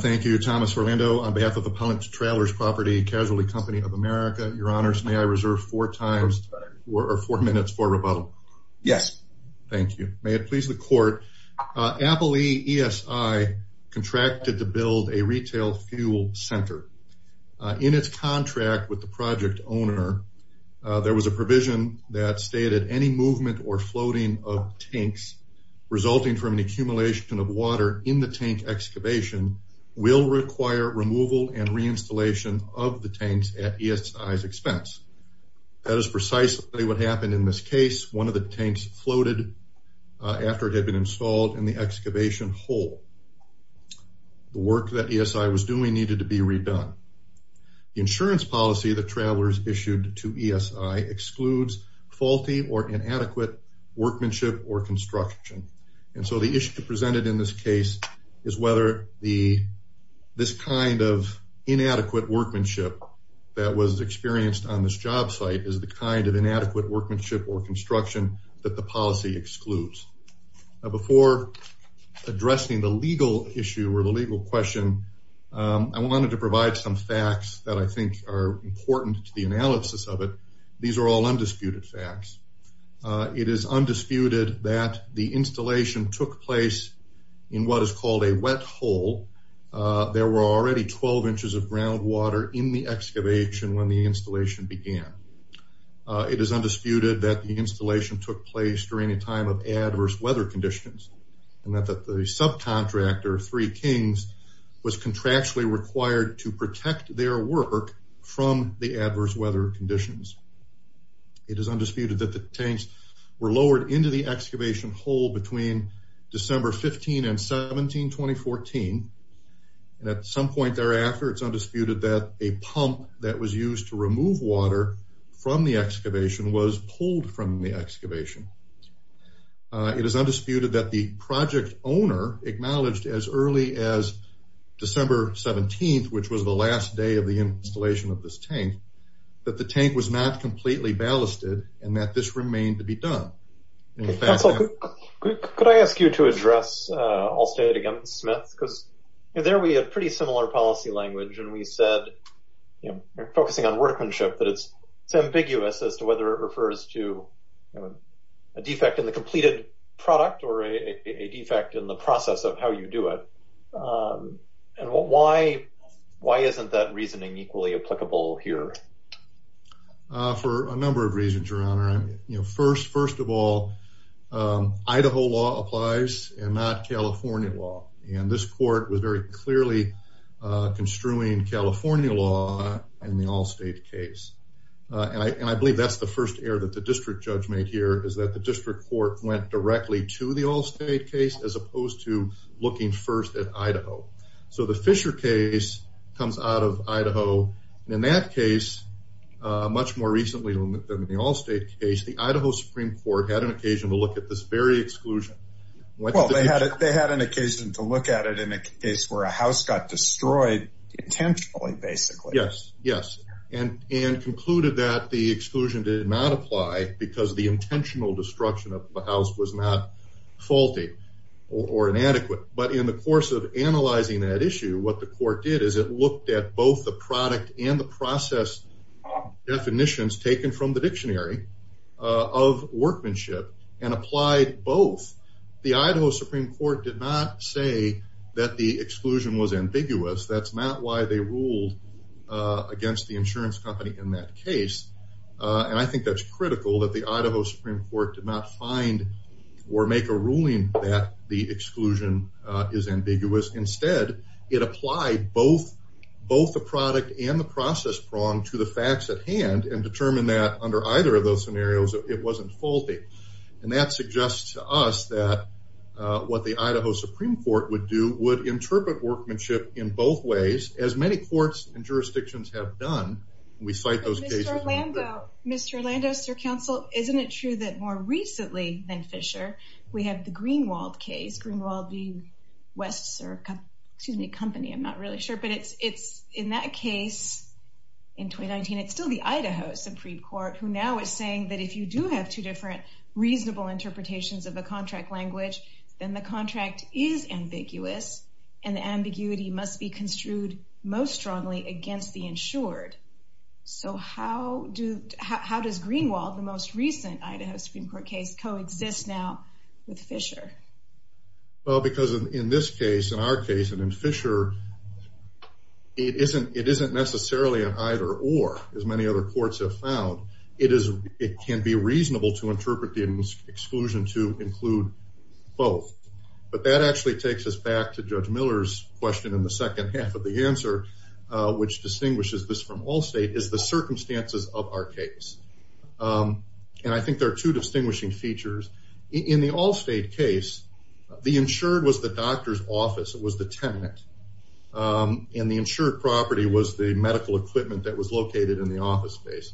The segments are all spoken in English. Thank you, Thomas Orlando, on behalf of Appellant Travelers Property Casualty Company of America. Your Honors, may I reserve four minutes for rebuttal? Yes. Thank you. May it please the Court. Apple E.E.S.I. contracted to build a retail fuel center. In its contract with the project owner, there was a provision that stated, any movement or floating of tanks resulting from an accumulation of water in the tank excavation will require removal and reinstallation of the tanks at E.S.I.'s expense. That is precisely what happened in this case. One of the tanks floated after it had been installed in the excavation hole. The work that E.S.I. was doing needed to be redone. The insurance policy that Travelers issued to E.S.I. excludes faulty or inadequate workmanship or construction. And so the issue presented in this case is whether this kind of inadequate workmanship that was experienced on this job site is the kind of inadequate workmanship or construction that the policy excludes. Before addressing the legal issue or the legal question, I wanted to provide some facts that I think are important to the analysis of it. These are all undisputed facts. It is undisputed that the installation took place in what is called a wet hole. There were already 12 inches of groundwater in the excavation when the installation began. It is undisputed that the installation took place during a time of adverse weather conditions. And that the subcontractor, Three Kings, was contractually required to protect their work from the adverse weather conditions. It is undisputed that the tanks were lowered into the excavation hole between December 15 and 17, 2014. And at some point thereafter, it's undisputed that a pump that was used to remove water from the excavation was pulled from the excavation. It is undisputed that the project owner acknowledged as early as December 17, which was the last day of the installation of this tank, that the tank was not completely ballasted and that this remained to be done. Could I ask you to address Allstate against Smith? Because there we had pretty similar policy language and we said, you know, we're focusing on workmanship, but it's ambiguous as to whether it refers to a defect in the completed product or a defect in the process of how you do it. And why isn't that reasoning equally applicable here? For a number of reasons, Your Honor. First of all, Idaho law applies and not California law. And this court was very clearly construing California law in the Allstate case. And I believe that's the first error that the district judge made here, is that the district court went directly to the Allstate case as opposed to looking first at Idaho. So the Fisher case comes out of Idaho. In that case, much more recently than the Allstate case, the Idaho Supreme Court had an occasion to look at this very exclusion. Well, they had an occasion to look at it in a case where a house got destroyed intentionally, basically. Yes, yes. And concluded that the exclusion did not apply because the intentional destruction of the house was not faulty or inadequate. But in the course of analyzing that issue, what the court did is it looked at both the product and the process definitions taken from the dictionary of workmanship and applied both. The Idaho Supreme Court did not say that the exclusion was ambiguous. That's not why they ruled against the insurance company in that case. And I think that's critical that the Idaho Supreme Court did not find or make a ruling that the exclusion is ambiguous. Instead, it applied both the product and the process prong to the facts at hand and determined that under either of those scenarios, it wasn't faulty. And that suggests to us that what the Idaho Supreme Court would do would interpret workmanship in both ways, as many courts and jurisdictions have done. We fight those cases. Mr. Orlando, Mr. Orlando, Mr. Counsel, isn't it true that more recently than Fisher, we have the Greenwald case? Greenwald being West's company, I'm not really sure. But it's in that case in 2019, it's still the Idaho Supreme Court who now is saying that if you do have two different reasonable interpretations of a contract language, then the contract is ambiguous. And the ambiguity must be construed most strongly against the insured. So how does Greenwald, the most recent Idaho Supreme Court case, coexist now with Fisher? Well, because in this case, in our case, and in Fisher, it isn't necessarily an either or, as many other courts have found. It can be reasonable to interpret the exclusion to include both. But that actually takes us back to Judge Miller's question in the second half of the answer, which distinguishes this from Allstate, is the circumstances of our case. And I think there are two distinguishing features. In the Allstate case, the insured was the doctor's office. It was the tenant. And the insured property was the medical equipment that was located in the office space.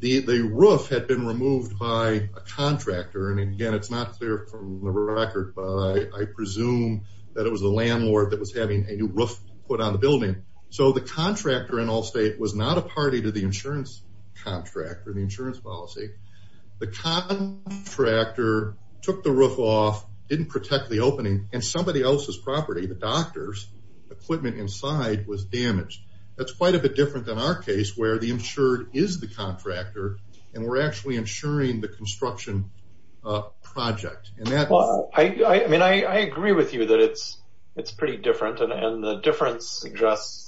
The roof had been removed by a contractor. And again, it's not clear from the record, but I presume that it was the landlord that was having a new roof put on the building. So the contractor in Allstate was not a party to the insurance contract or the insurance policy. The contractor took the roof off, didn't protect the opening, and somebody else's property, the doctor's equipment inside, was damaged. That's quite a bit different than our case, where the insured is the contractor, and we're actually insuring the construction project. And that's... Well, I mean, I agree with you that it's pretty different, and the difference suggests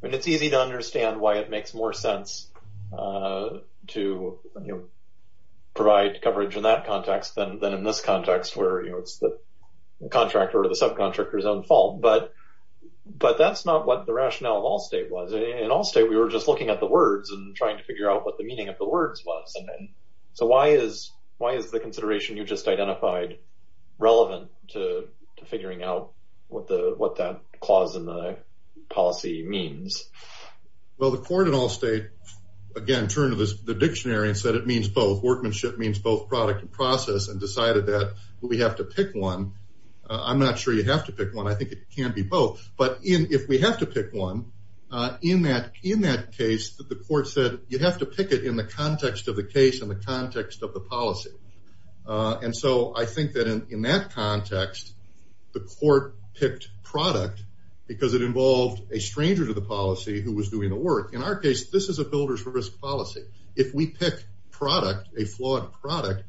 that it's easy to understand why it makes more sense to provide coverage in that context than in this context, where it's the contractor or the subcontractor's own fault. But that's not what the rationale of Allstate was. In Allstate, we were just looking at the words and trying to figure out what the meaning of the words was. So why is the consideration you just identified relevant to figuring out what that clause in the policy means? Well, the court in Allstate, again, turned to the dictionary and said it means both. Workmanship means both product and process, and decided that we have to pick one. I'm not sure you have to pick one. I think it can be both. But if we have to pick one, in that case, the court said you have to pick it in the context of the case and the context of the policy. And so I think that in that context, the court picked product because it involved a stranger to the policy who was doing the work. In our case, this is a builder's risk policy. If we pick product, a flawed product,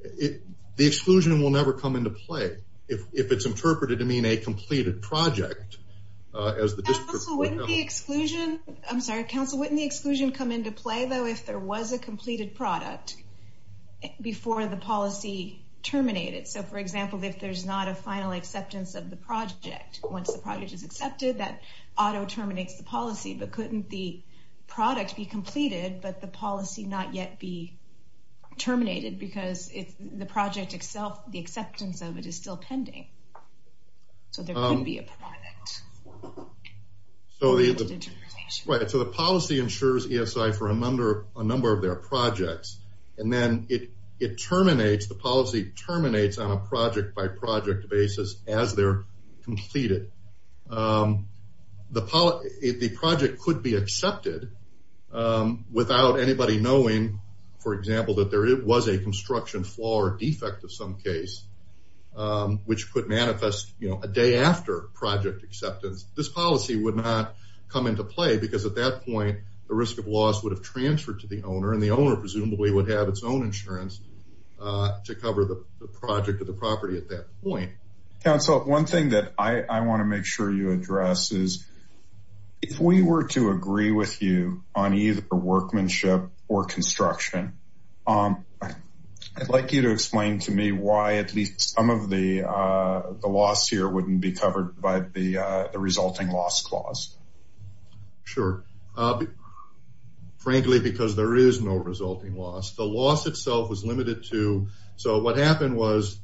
the exclusion will never come into play. If it's interpreted to mean a completed project, as the district would know. Counsel, wouldn't the exclusion come into play, though, if there was a completed product before the policy terminated? So, for example, if there's not a final acceptance of the project, once the project is accepted, that auto-terminates the policy. But couldn't the product be completed, but the policy not yet be terminated? Because the project itself, the acceptance of it is still pending. So there could be a permit. So the policy ensures ESI for a number of their projects, and then it terminates, the policy terminates on a project-by-project basis as they're completed. The project could be accepted without anybody knowing, for example, that there was a construction flaw or defect of some case, which could manifest a day after project acceptance. This policy would not come into play, because at that point, the risk of loss would have transferred to the owner, and the owner presumably would have its own insurance to cover the project of the property at that point. Counsel, one thing that I want to make sure you address is, if we were to agree with you on either workmanship or construction, I'd like you to explain to me why at least some of the loss here wouldn't be covered by the resulting loss clause. Sure. Frankly, because there is no resulting loss. The loss itself was limited to, so what happened was,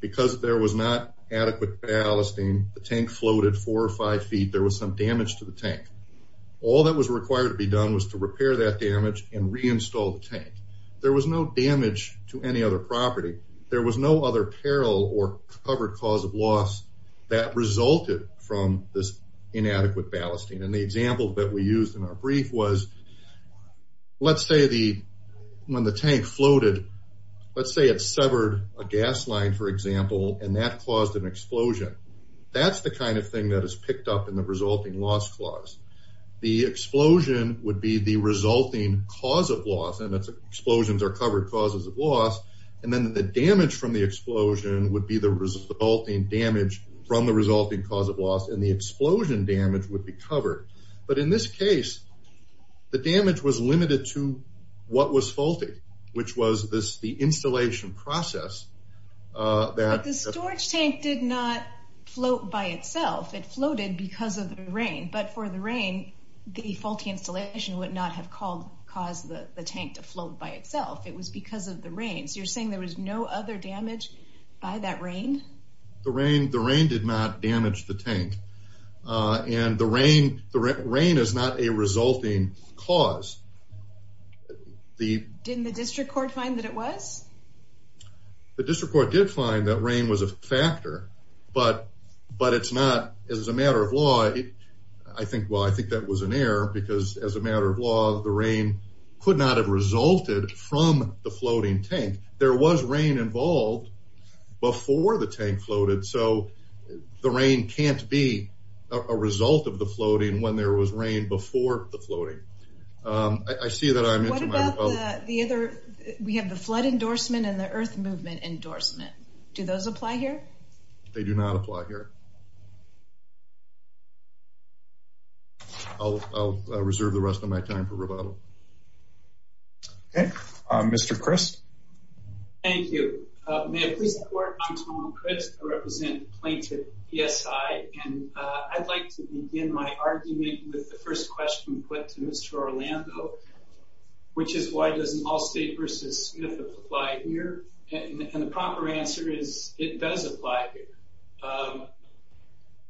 because there was not adequate ballasting, the tank floated four or five feet. There was some damage to the tank. All that was required to be done was to repair that damage and reinstall the tank. There was no damage to any other property. There was no other peril or covered cause of loss that resulted from this inadequate ballasting. The example that we used in our brief was, let's say when the tank floated, let's say it severed a gas line, for example, and that caused an explosion. That's the kind of thing that is picked up in the resulting loss clause. The explosion would be the resulting cause of loss, and explosions are covered causes of loss, and then the damage from the explosion would be the resulting damage from the resulting cause of loss, and the explosion damage would be covered. But in this case, the damage was limited to what was faulted, which was the installation process. But the storage tank did not float by itself. It floated because of the rain, but for the rain, the faulty installation would not have caused the tank to float by itself. It was because of the rain, so you're saying there was no other damage by that rain? The rain did not damage the tank, and the rain is not a resulting cause. Didn't the district court find that it was? The district court did find that rain was a factor, but it's not. As a matter of law, I think that was an error, because as a matter of law, the rain could not have resulted from the floating tank. There was rain involved before the tank floated, so the rain can't be a result of the floating when there was rain before the floating. I see that I'm into my rebuttal. What about the other, we have the flood endorsement and the earth movement endorsement. Do those apply here? They do not apply here. I'll reserve the rest of my time for rebuttal. Okay, Mr. Christ. Thank you. May I please have the floor? I'm Tom Christ, I represent plaintiff PSI. I'd like to begin my argument with the first question put to Mr. Orlando, which is why doesn't Allstate v. Smith apply here? The proper answer is it does apply here.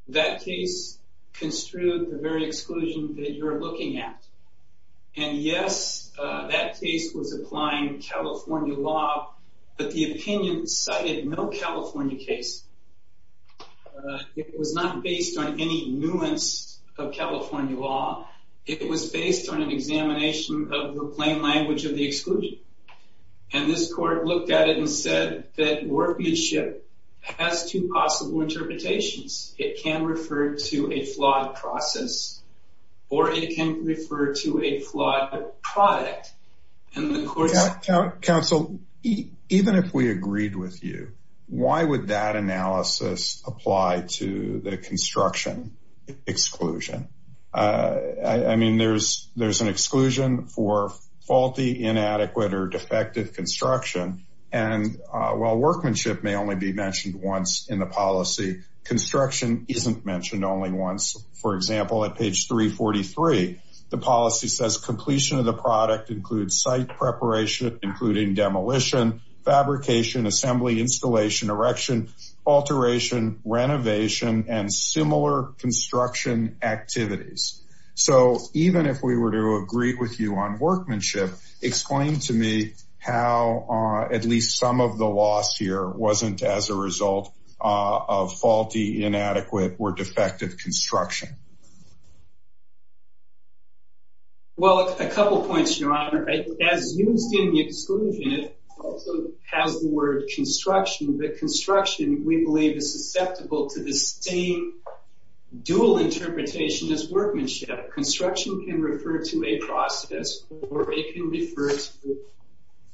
That case construed the very exclusion that you're looking at. And yes, that case was applying California law, but the opinion cited no California case. It was not based on any nuance of California law. It was based on an examination of the plain language of the exclusion. And this court looked at it and said that warped leadership has two possible interpretations. It can refer to a flawed process or it can refer to a flawed product. Counsel, even if we agreed with you, why would that analysis apply to the construction exclusion? I mean, there's an exclusion for faulty, inadequate or defective construction. And while workmanship may only be mentioned once in the policy, construction isn't mentioned only once. For example, at page 343, the policy says completion of the product includes site preparation, including demolition, fabrication, assembly, installation, erection, alteration, renovation and similar construction activities. So even if we were to agree with you on workmanship, explain to me how at least some of the loss here wasn't as a result of faulty, inadequate or defective construction. Well, a couple points, Your Honor. As used in the exclusion, it also has the word construction, but construction, we believe, is susceptible to the same dual interpretation as workmanship. Construction can refer to a process or it can refer to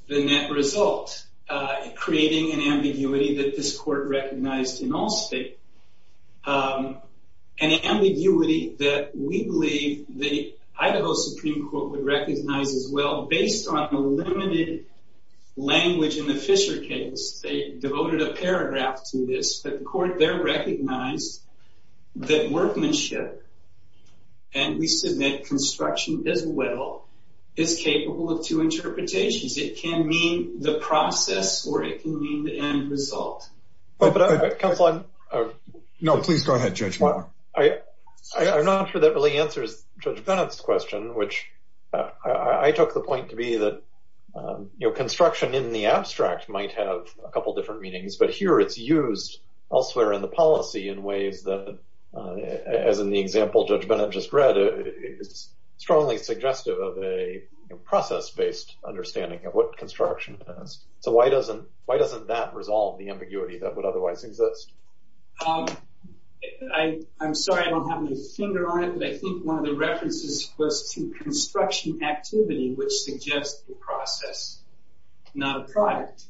the net result, creating an ambiguity that this court recognized in all state. An ambiguity that we believe the Idaho Supreme Court would recognize as well. Based on the limited language in the Fisher case, they devoted a paragraph to this. But the court there recognized that workmanship, and we submit construction as well, is capable of two interpretations. It can mean the process or it can mean the end result. No, please go ahead, Judge Mueller. I'm not sure that really answers Judge Bennett's question, which I took the point to be that, you know, construction in the abstract might have a couple different meanings. But here it's used elsewhere in the policy in ways that, as in the example Judge Bennett just read, is strongly suggestive of a process-based understanding of what construction is. So why doesn't that resolve the ambiguity that would otherwise exist? I'm sorry I don't have my finger on it, but I think one of the references was to construction activity, which suggests the process, not a product.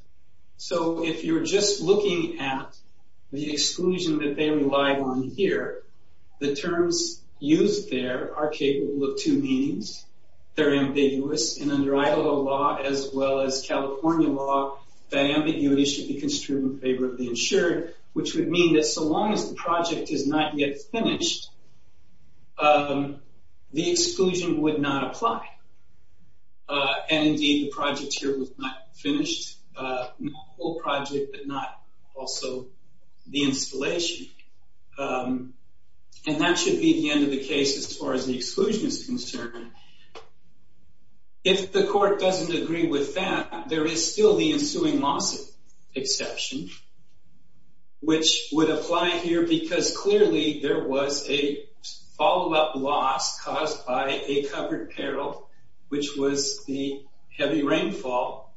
So if you're just looking at the exclusion that they relied on here, the terms used there are capable of two meanings. They're ambiguous, and under Idaho law as well as California law, that ambiguity should be construed in favor of the insured, which would mean that so long as the project is not yet finished, the exclusion would not apply. And indeed, the project here was not finished, the whole project, but not also the installation. And that should be the end of the case as far as the exclusion is concerned. If the court doesn't agree with that, there is still the ensuing lawsuit exception, which would apply here because clearly there was a follow-up loss caused by a covered peril, which was the heavy rainfall.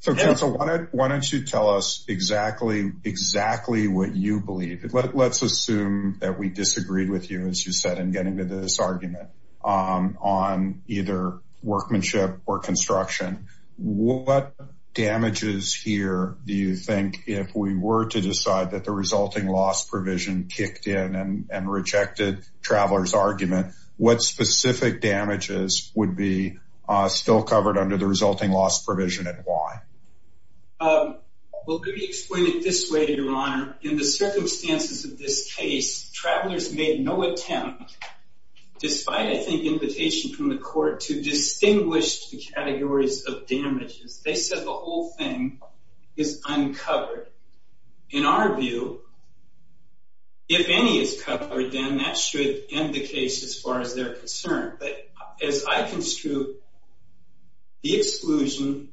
So Council, why don't you tell us exactly what you believe? Let's assume that we disagreed with you, as you said, in getting to this argument on either workmanship or construction. What damages here do you think, if we were to decide that the resulting loss provision kicked in and rejected Traveler's argument, what specific damages would be still covered under the resulting loss provision and why? Well, let me explain it this way, Your Honor. In the circumstances of this case, Traveler's made no attempt, despite, I think, invitation from the court to distinguish the categories of damages. They said the whole thing is uncovered. In our view, if any is covered, then that should end the case as far as they're concerned. But as I construe, the exclusion,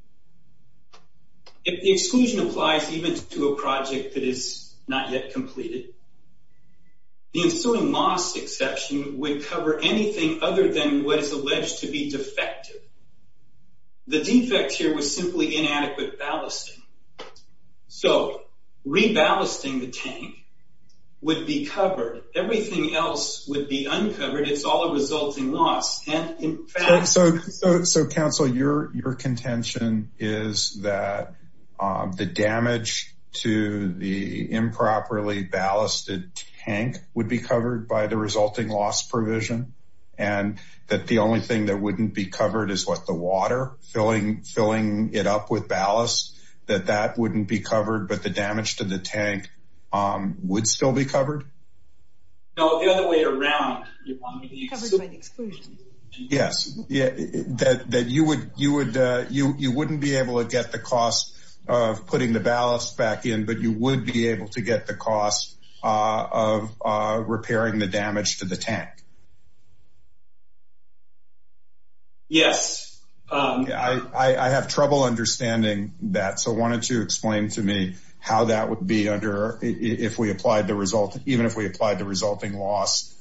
if the exclusion applies even to a project that is not yet completed, the ensuing loss exception would cover anything other than what is alleged to be defective. The defect here was simply inadequate ballasting. So re-ballasting the tank would be covered. Everything else would be uncovered. It's all a resulting loss. So, Council, your contention is that the damage to the improperly ballasted tank would be covered by the resulting loss provision and that the only thing that wouldn't be covered is, what, the water? Filling it up with ballast? That that wouldn't be covered, but the damage to the tank would still be covered? No, the other way around. Yes, that you wouldn't be able to get the cost of putting the ballast back in, but you would be able to get the cost of repairing the damage to the tank. Yes, I have trouble understanding that. So why don't you explain to me how that would be under if we applied the result, even if we applied the resulting loss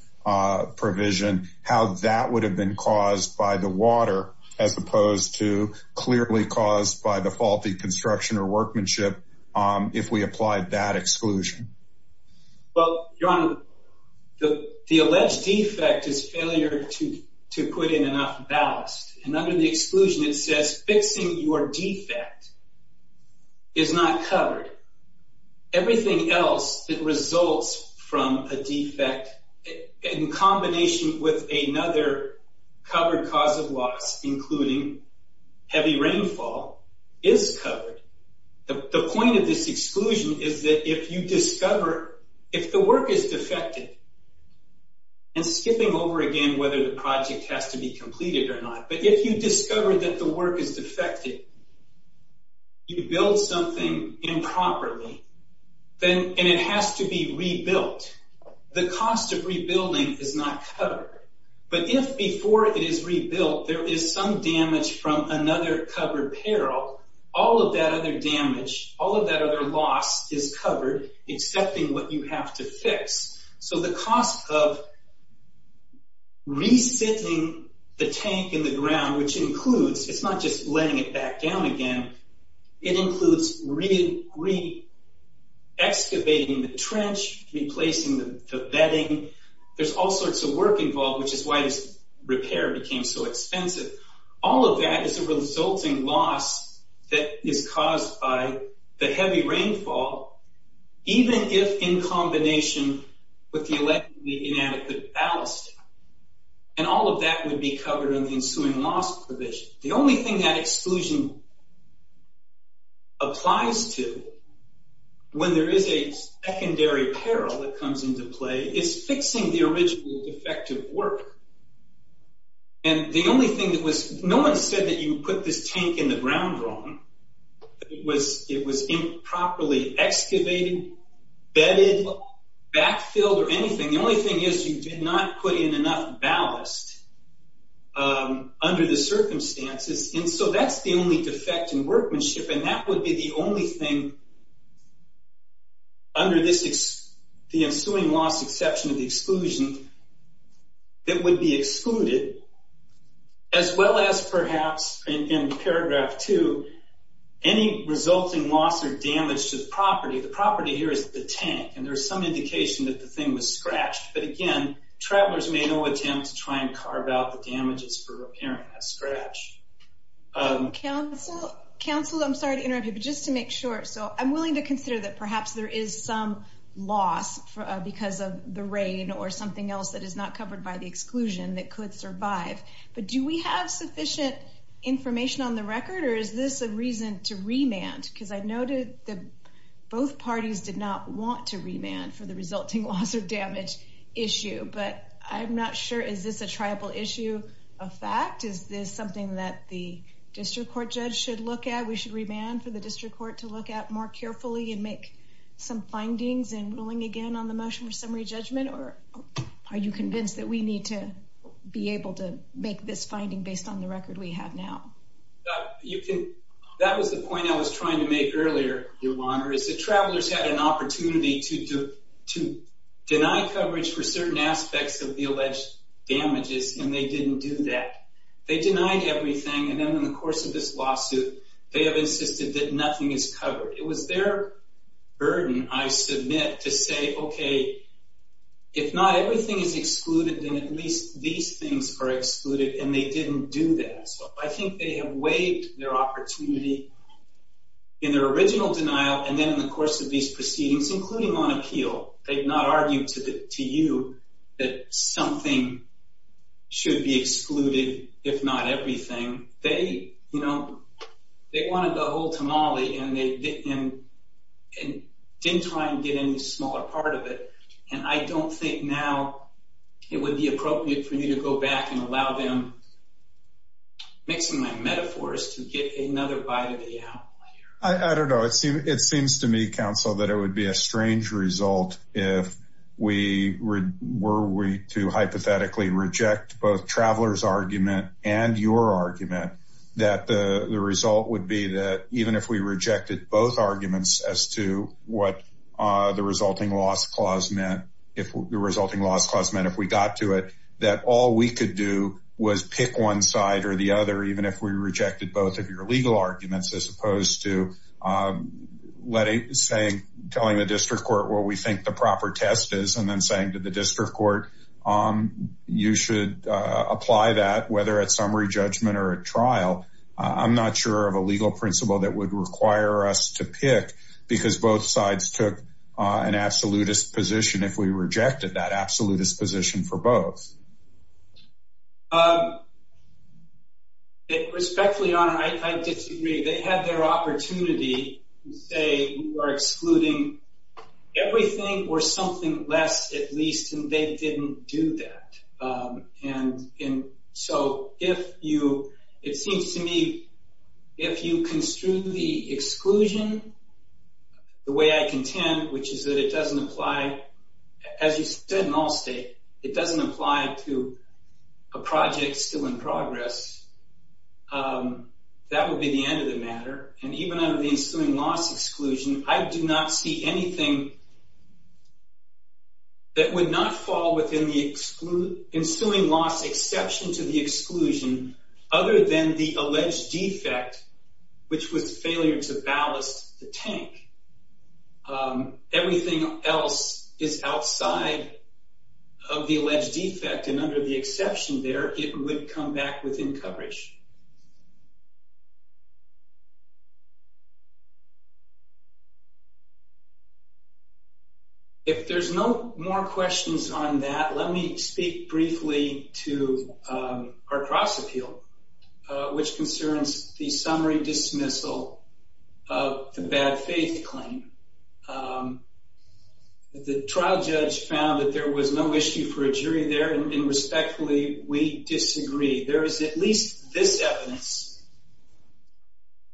provision, how that would have been caused by the water as opposed to clearly caused by the faulty construction or workmanship. If we applied that exclusion. Well, Your Honor, the alleged defect is failure to put in enough ballast. And under the exclusion, it says fixing your defect is not covered. Everything else that results from a defect in combination with another covered cause of loss, including heavy rainfall, is covered. The point of this exclusion is that if you discover, if the work is defective, and skipping over again whether the project has to be completed or not, but if you discover that the work is defective, you build something improperly, then it has to be rebuilt. The cost of rebuilding is not covered. But if before it is rebuilt, there is some damage from another covered peril, all of that other damage, all of that other loss is covered, excepting what you have to fix. So the cost of re-sitting the tank in the ground, which includes, it's not just letting it back down again, it includes re-excavating the trench, replacing the bedding. There's all sorts of work involved, which is why this repair became so expensive. All of that is a resulting loss that is caused by the heavy rainfall, even if in combination with the inadequate ballasting. And all of that would be covered in the ensuing loss provision. The only thing that exclusion applies to, when there is a secondary peril that comes into play, is fixing the original defective work. And the only thing that was, no one said that you put this tank in the ground wrong. It was improperly excavated, bedded, backfilled, or anything. The only thing is you did not put in enough ballast under the circumstances. And so that's the only defect in workmanship, and that would be the only thing under the ensuing loss exception of the exclusion that would be excluded. As well as perhaps, in paragraph two, any resulting loss or damage to the property. The property here is the tank, and there's some indication that the thing was scratched. But again, travelers may not attempt to try and carve out the damages for repairing that scratch. Council, I'm sorry to interrupt you, but just to make sure. I'm willing to consider that perhaps there is some loss because of the rain or something else that is not covered by the exclusion that could survive. But do we have sufficient information on the record, or is this a reason to remand? Because I noted that both parties did not want to remand for the resulting loss or damage issue. But I'm not sure, is this a tribal issue of fact? Is this something that the district court judge should look at? We should remand for the district court to look at more carefully and make some findings and ruling again on the motion for summary judgment? Or are you convinced that we need to be able to make this finding based on the record we have now? That was the point I was trying to make earlier, Your Honor, is that travelers had an opportunity to deny coverage for certain aspects of the alleged damages, and they didn't do that. They denied everything, and then in the course of this lawsuit, they have insisted that nothing is covered. It was their burden, I submit, to say, okay, if not everything is excluded, then at least these things are excluded, and they didn't do that. So I think they have waived their opportunity in their original denial, and then in the course of these proceedings, including on appeal, they've not argued to you that something should be excluded, if not everything. They wanted the whole tamale, and they didn't try and get any smaller part of it. And I don't think now it would be appropriate for me to go back and allow them, mixing my metaphors, to get another bite of the apple here. I don't know. It seems to me, counsel, that it would be a strange result if we were to hypothetically reject both travelers' argument and your argument, that the result would be that even if we rejected both arguments as to what the resulting loss clause meant, if we got to it, that all we could do was pick one side or the other, even if we rejected both of your legal arguments, as opposed to telling the district court what we think the proper test is, and then saying to the district court, you should apply that, whether at summary judgment or at trial. I'm not sure of a legal principle that would require us to pick, because both sides took an absolutist position if we rejected that absolutist position for both. Respectfully, Your Honor, I disagree. They had their opportunity to say we were excluding everything or something less, at least, and they didn't do that. It seems to me, if you construe the exclusion the way I contend, which is that it doesn't apply, as you said, in all state, it doesn't apply to a project still in progress, that would be the end of the matter. And even under the ensuing loss exclusion, I do not see anything that would not fall within the ensuing loss exception to the exclusion, other than the alleged defect, which was failure to ballast the tank. Everything else is outside of the alleged defect, and under the exception there, it would come back within coverage. If there's no more questions on that, let me speak briefly to our cross appeal, which concerns the summary dismissal of the bad faith claim. The trial judge found that there was no issue for a jury there, and respectfully, we disagree. There is at least this evidence.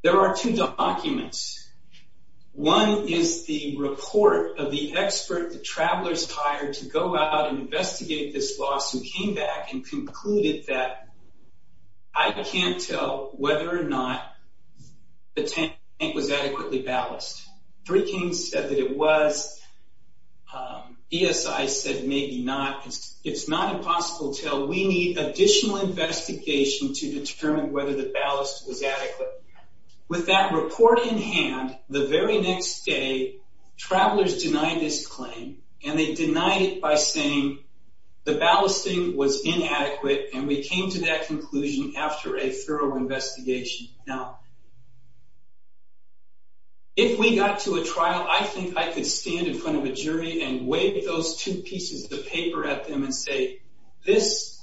There are two documents. One is the report of the expert the travelers hired to go out and investigate this loss, who came back and concluded that I can't tell whether or not the tank was adequately ballast. Three Kings said that it was. ESI said maybe not. It's not impossible to tell. We need additional investigation to determine whether the ballast was adequate. With that report in hand, the very next day, travelers denied this claim, and they denied it by saying the ballasting was inadequate, and we came to that conclusion after a thorough investigation. Now, if we got to a trial, I think I could stand in front of a jury and wave those two pieces of paper at them and say this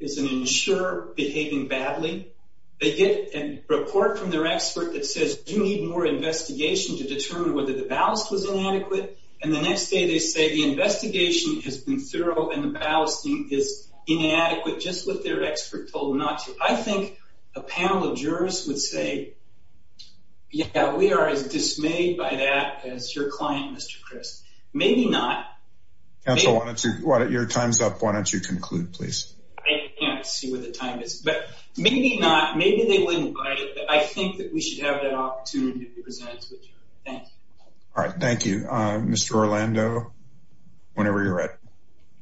is an insurer behaving badly. They get a report from their expert that says you need more investigation to determine whether the ballast was inadequate, and the next day they say the investigation has been thorough and the ballasting is inadequate, just what their expert told them not to. I think a panel of jurors would say, yeah, we are as dismayed by that as your client, Mr. Chris. Maybe not. Counsel, your time is up. Why don't you conclude, please? I can't see where the time is, but maybe not. Maybe they wouldn't, but I think that we should have that opportunity to present it to the jury. Thank you. All right. Mr. Orlando, whenever you're ready.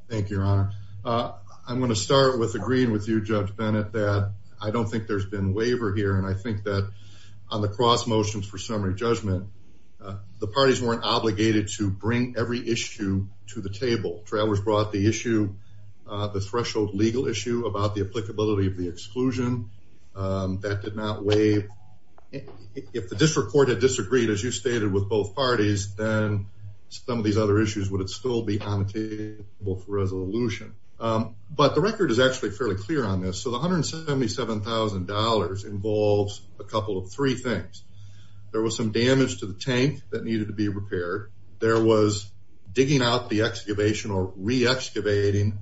Thank you, Your Honor. I'm going to start with agreeing with you, Judge Bennett, that I don't think there's been waiver here, and I think that on the cross motions for summary judgment, the parties weren't obligated to bring every issue to the table. Travers brought the issue, the threshold legal issue about the applicability of the exclusion. That did not waive. If the district court had disagreed, as you stated, with both parties, then some of these other issues would still be on the table for resolution. But the record is actually fairly clear on this. So the $177,000 involves a couple of three things. There was some damage to the tank that needed to be repaired. There was digging out the excavation or re-excavating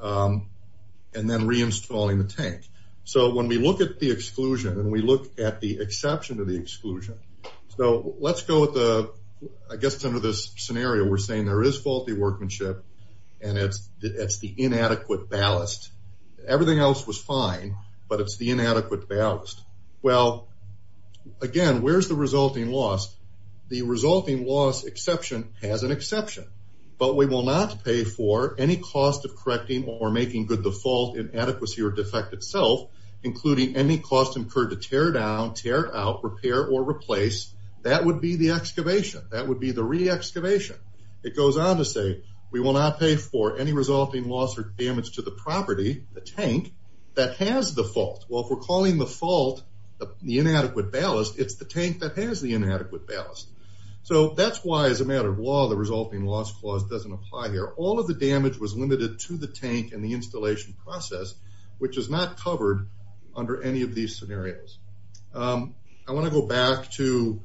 and then reinstalling the tank. So when we look at the exclusion and we look at the exception to the exclusion, so let's go with the, I guess under this scenario, we're saying there is faulty workmanship and it's the inadequate ballast. Everything else was fine, but it's the inadequate ballast. Well, again, where's the resulting loss? The resulting loss exception has an exception. But we will not pay for any cost of correcting or making good the fault, inadequacy, or defect itself, including any cost incurred to tear down, tear out, repair, or replace. That would be the excavation. That would be the re-excavation. It goes on to say we will not pay for any resulting loss or damage to the property, the tank, that has the fault. Well, if we're calling the fault the inadequate ballast, it's the tank that has the inadequate ballast. So that's why, as a matter of law, the resulting loss clause doesn't apply here. All of the damage was limited to the tank and the installation process, which is not covered under any of these scenarios. I want to go back to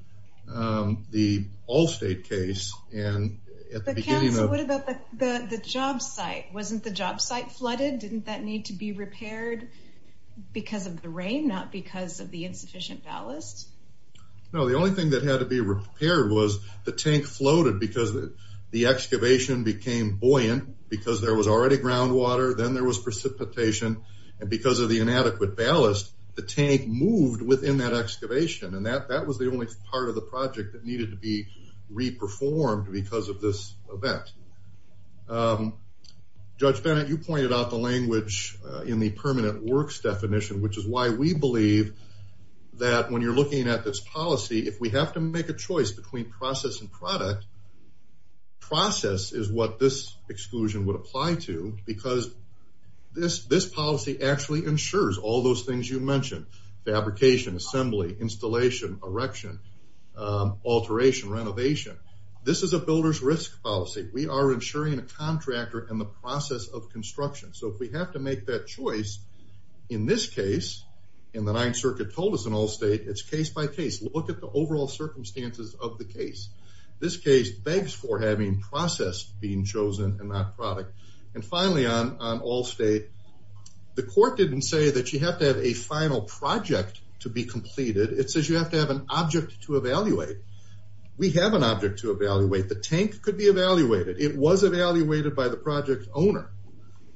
the Allstate case and at the beginning of... But Council, what about the job site? Wasn't the job site flooded? Didn't that need to be repaired because of the rain, not because of the insufficient ballast? No. The only thing that had to be repaired was the tank floated because the excavation became buoyant because there was already groundwater. Then there was precipitation. And because of the inadequate ballast, the tank moved within that excavation. And that was the only part of the project that needed to be re-performed because of this event. Judge Bennett, you pointed out the language in the permanent works definition, which is why we believe that when you're looking at this policy, if we have to make a choice between process and product, process is what this exclusion would apply to because this policy actually ensures all those things you mentioned. Fabrication, assembly, installation, erection, alteration, renovation. This is a builder's risk policy. We are ensuring a contractor and the process of construction. So if we have to make that choice, in this case, and the Ninth Circuit told us in Allstate, it's case by case. Look at the overall circumstances of the case. This case begs for having process being chosen and not product. And finally, on Allstate, the court didn't say that you have to have a final project to be completed. It says you have to have an object to evaluate. We have an object to evaluate. The tank could be evaluated. It was evaluated by the project owner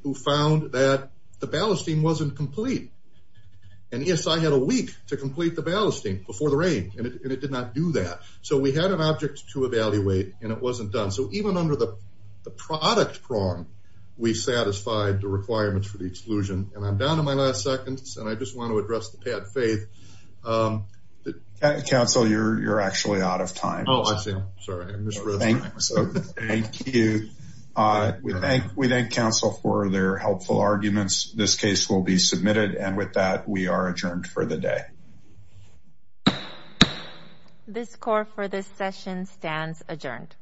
who found that the ballasting wasn't complete. And ESI had a week to complete the ballasting before the rain, and it did not do that. So we had an object to evaluate, and it wasn't done. So even under the product prong, we satisfied the requirements for the exclusion. And I'm down to my last seconds, and I just want to address the pad faith. Counsel, you're actually out of time. Oh, I see. Thank you. We thank counsel for their helpful arguments. This case will be submitted, and with that, we are adjourned for the day. This court for this session stands adjourned.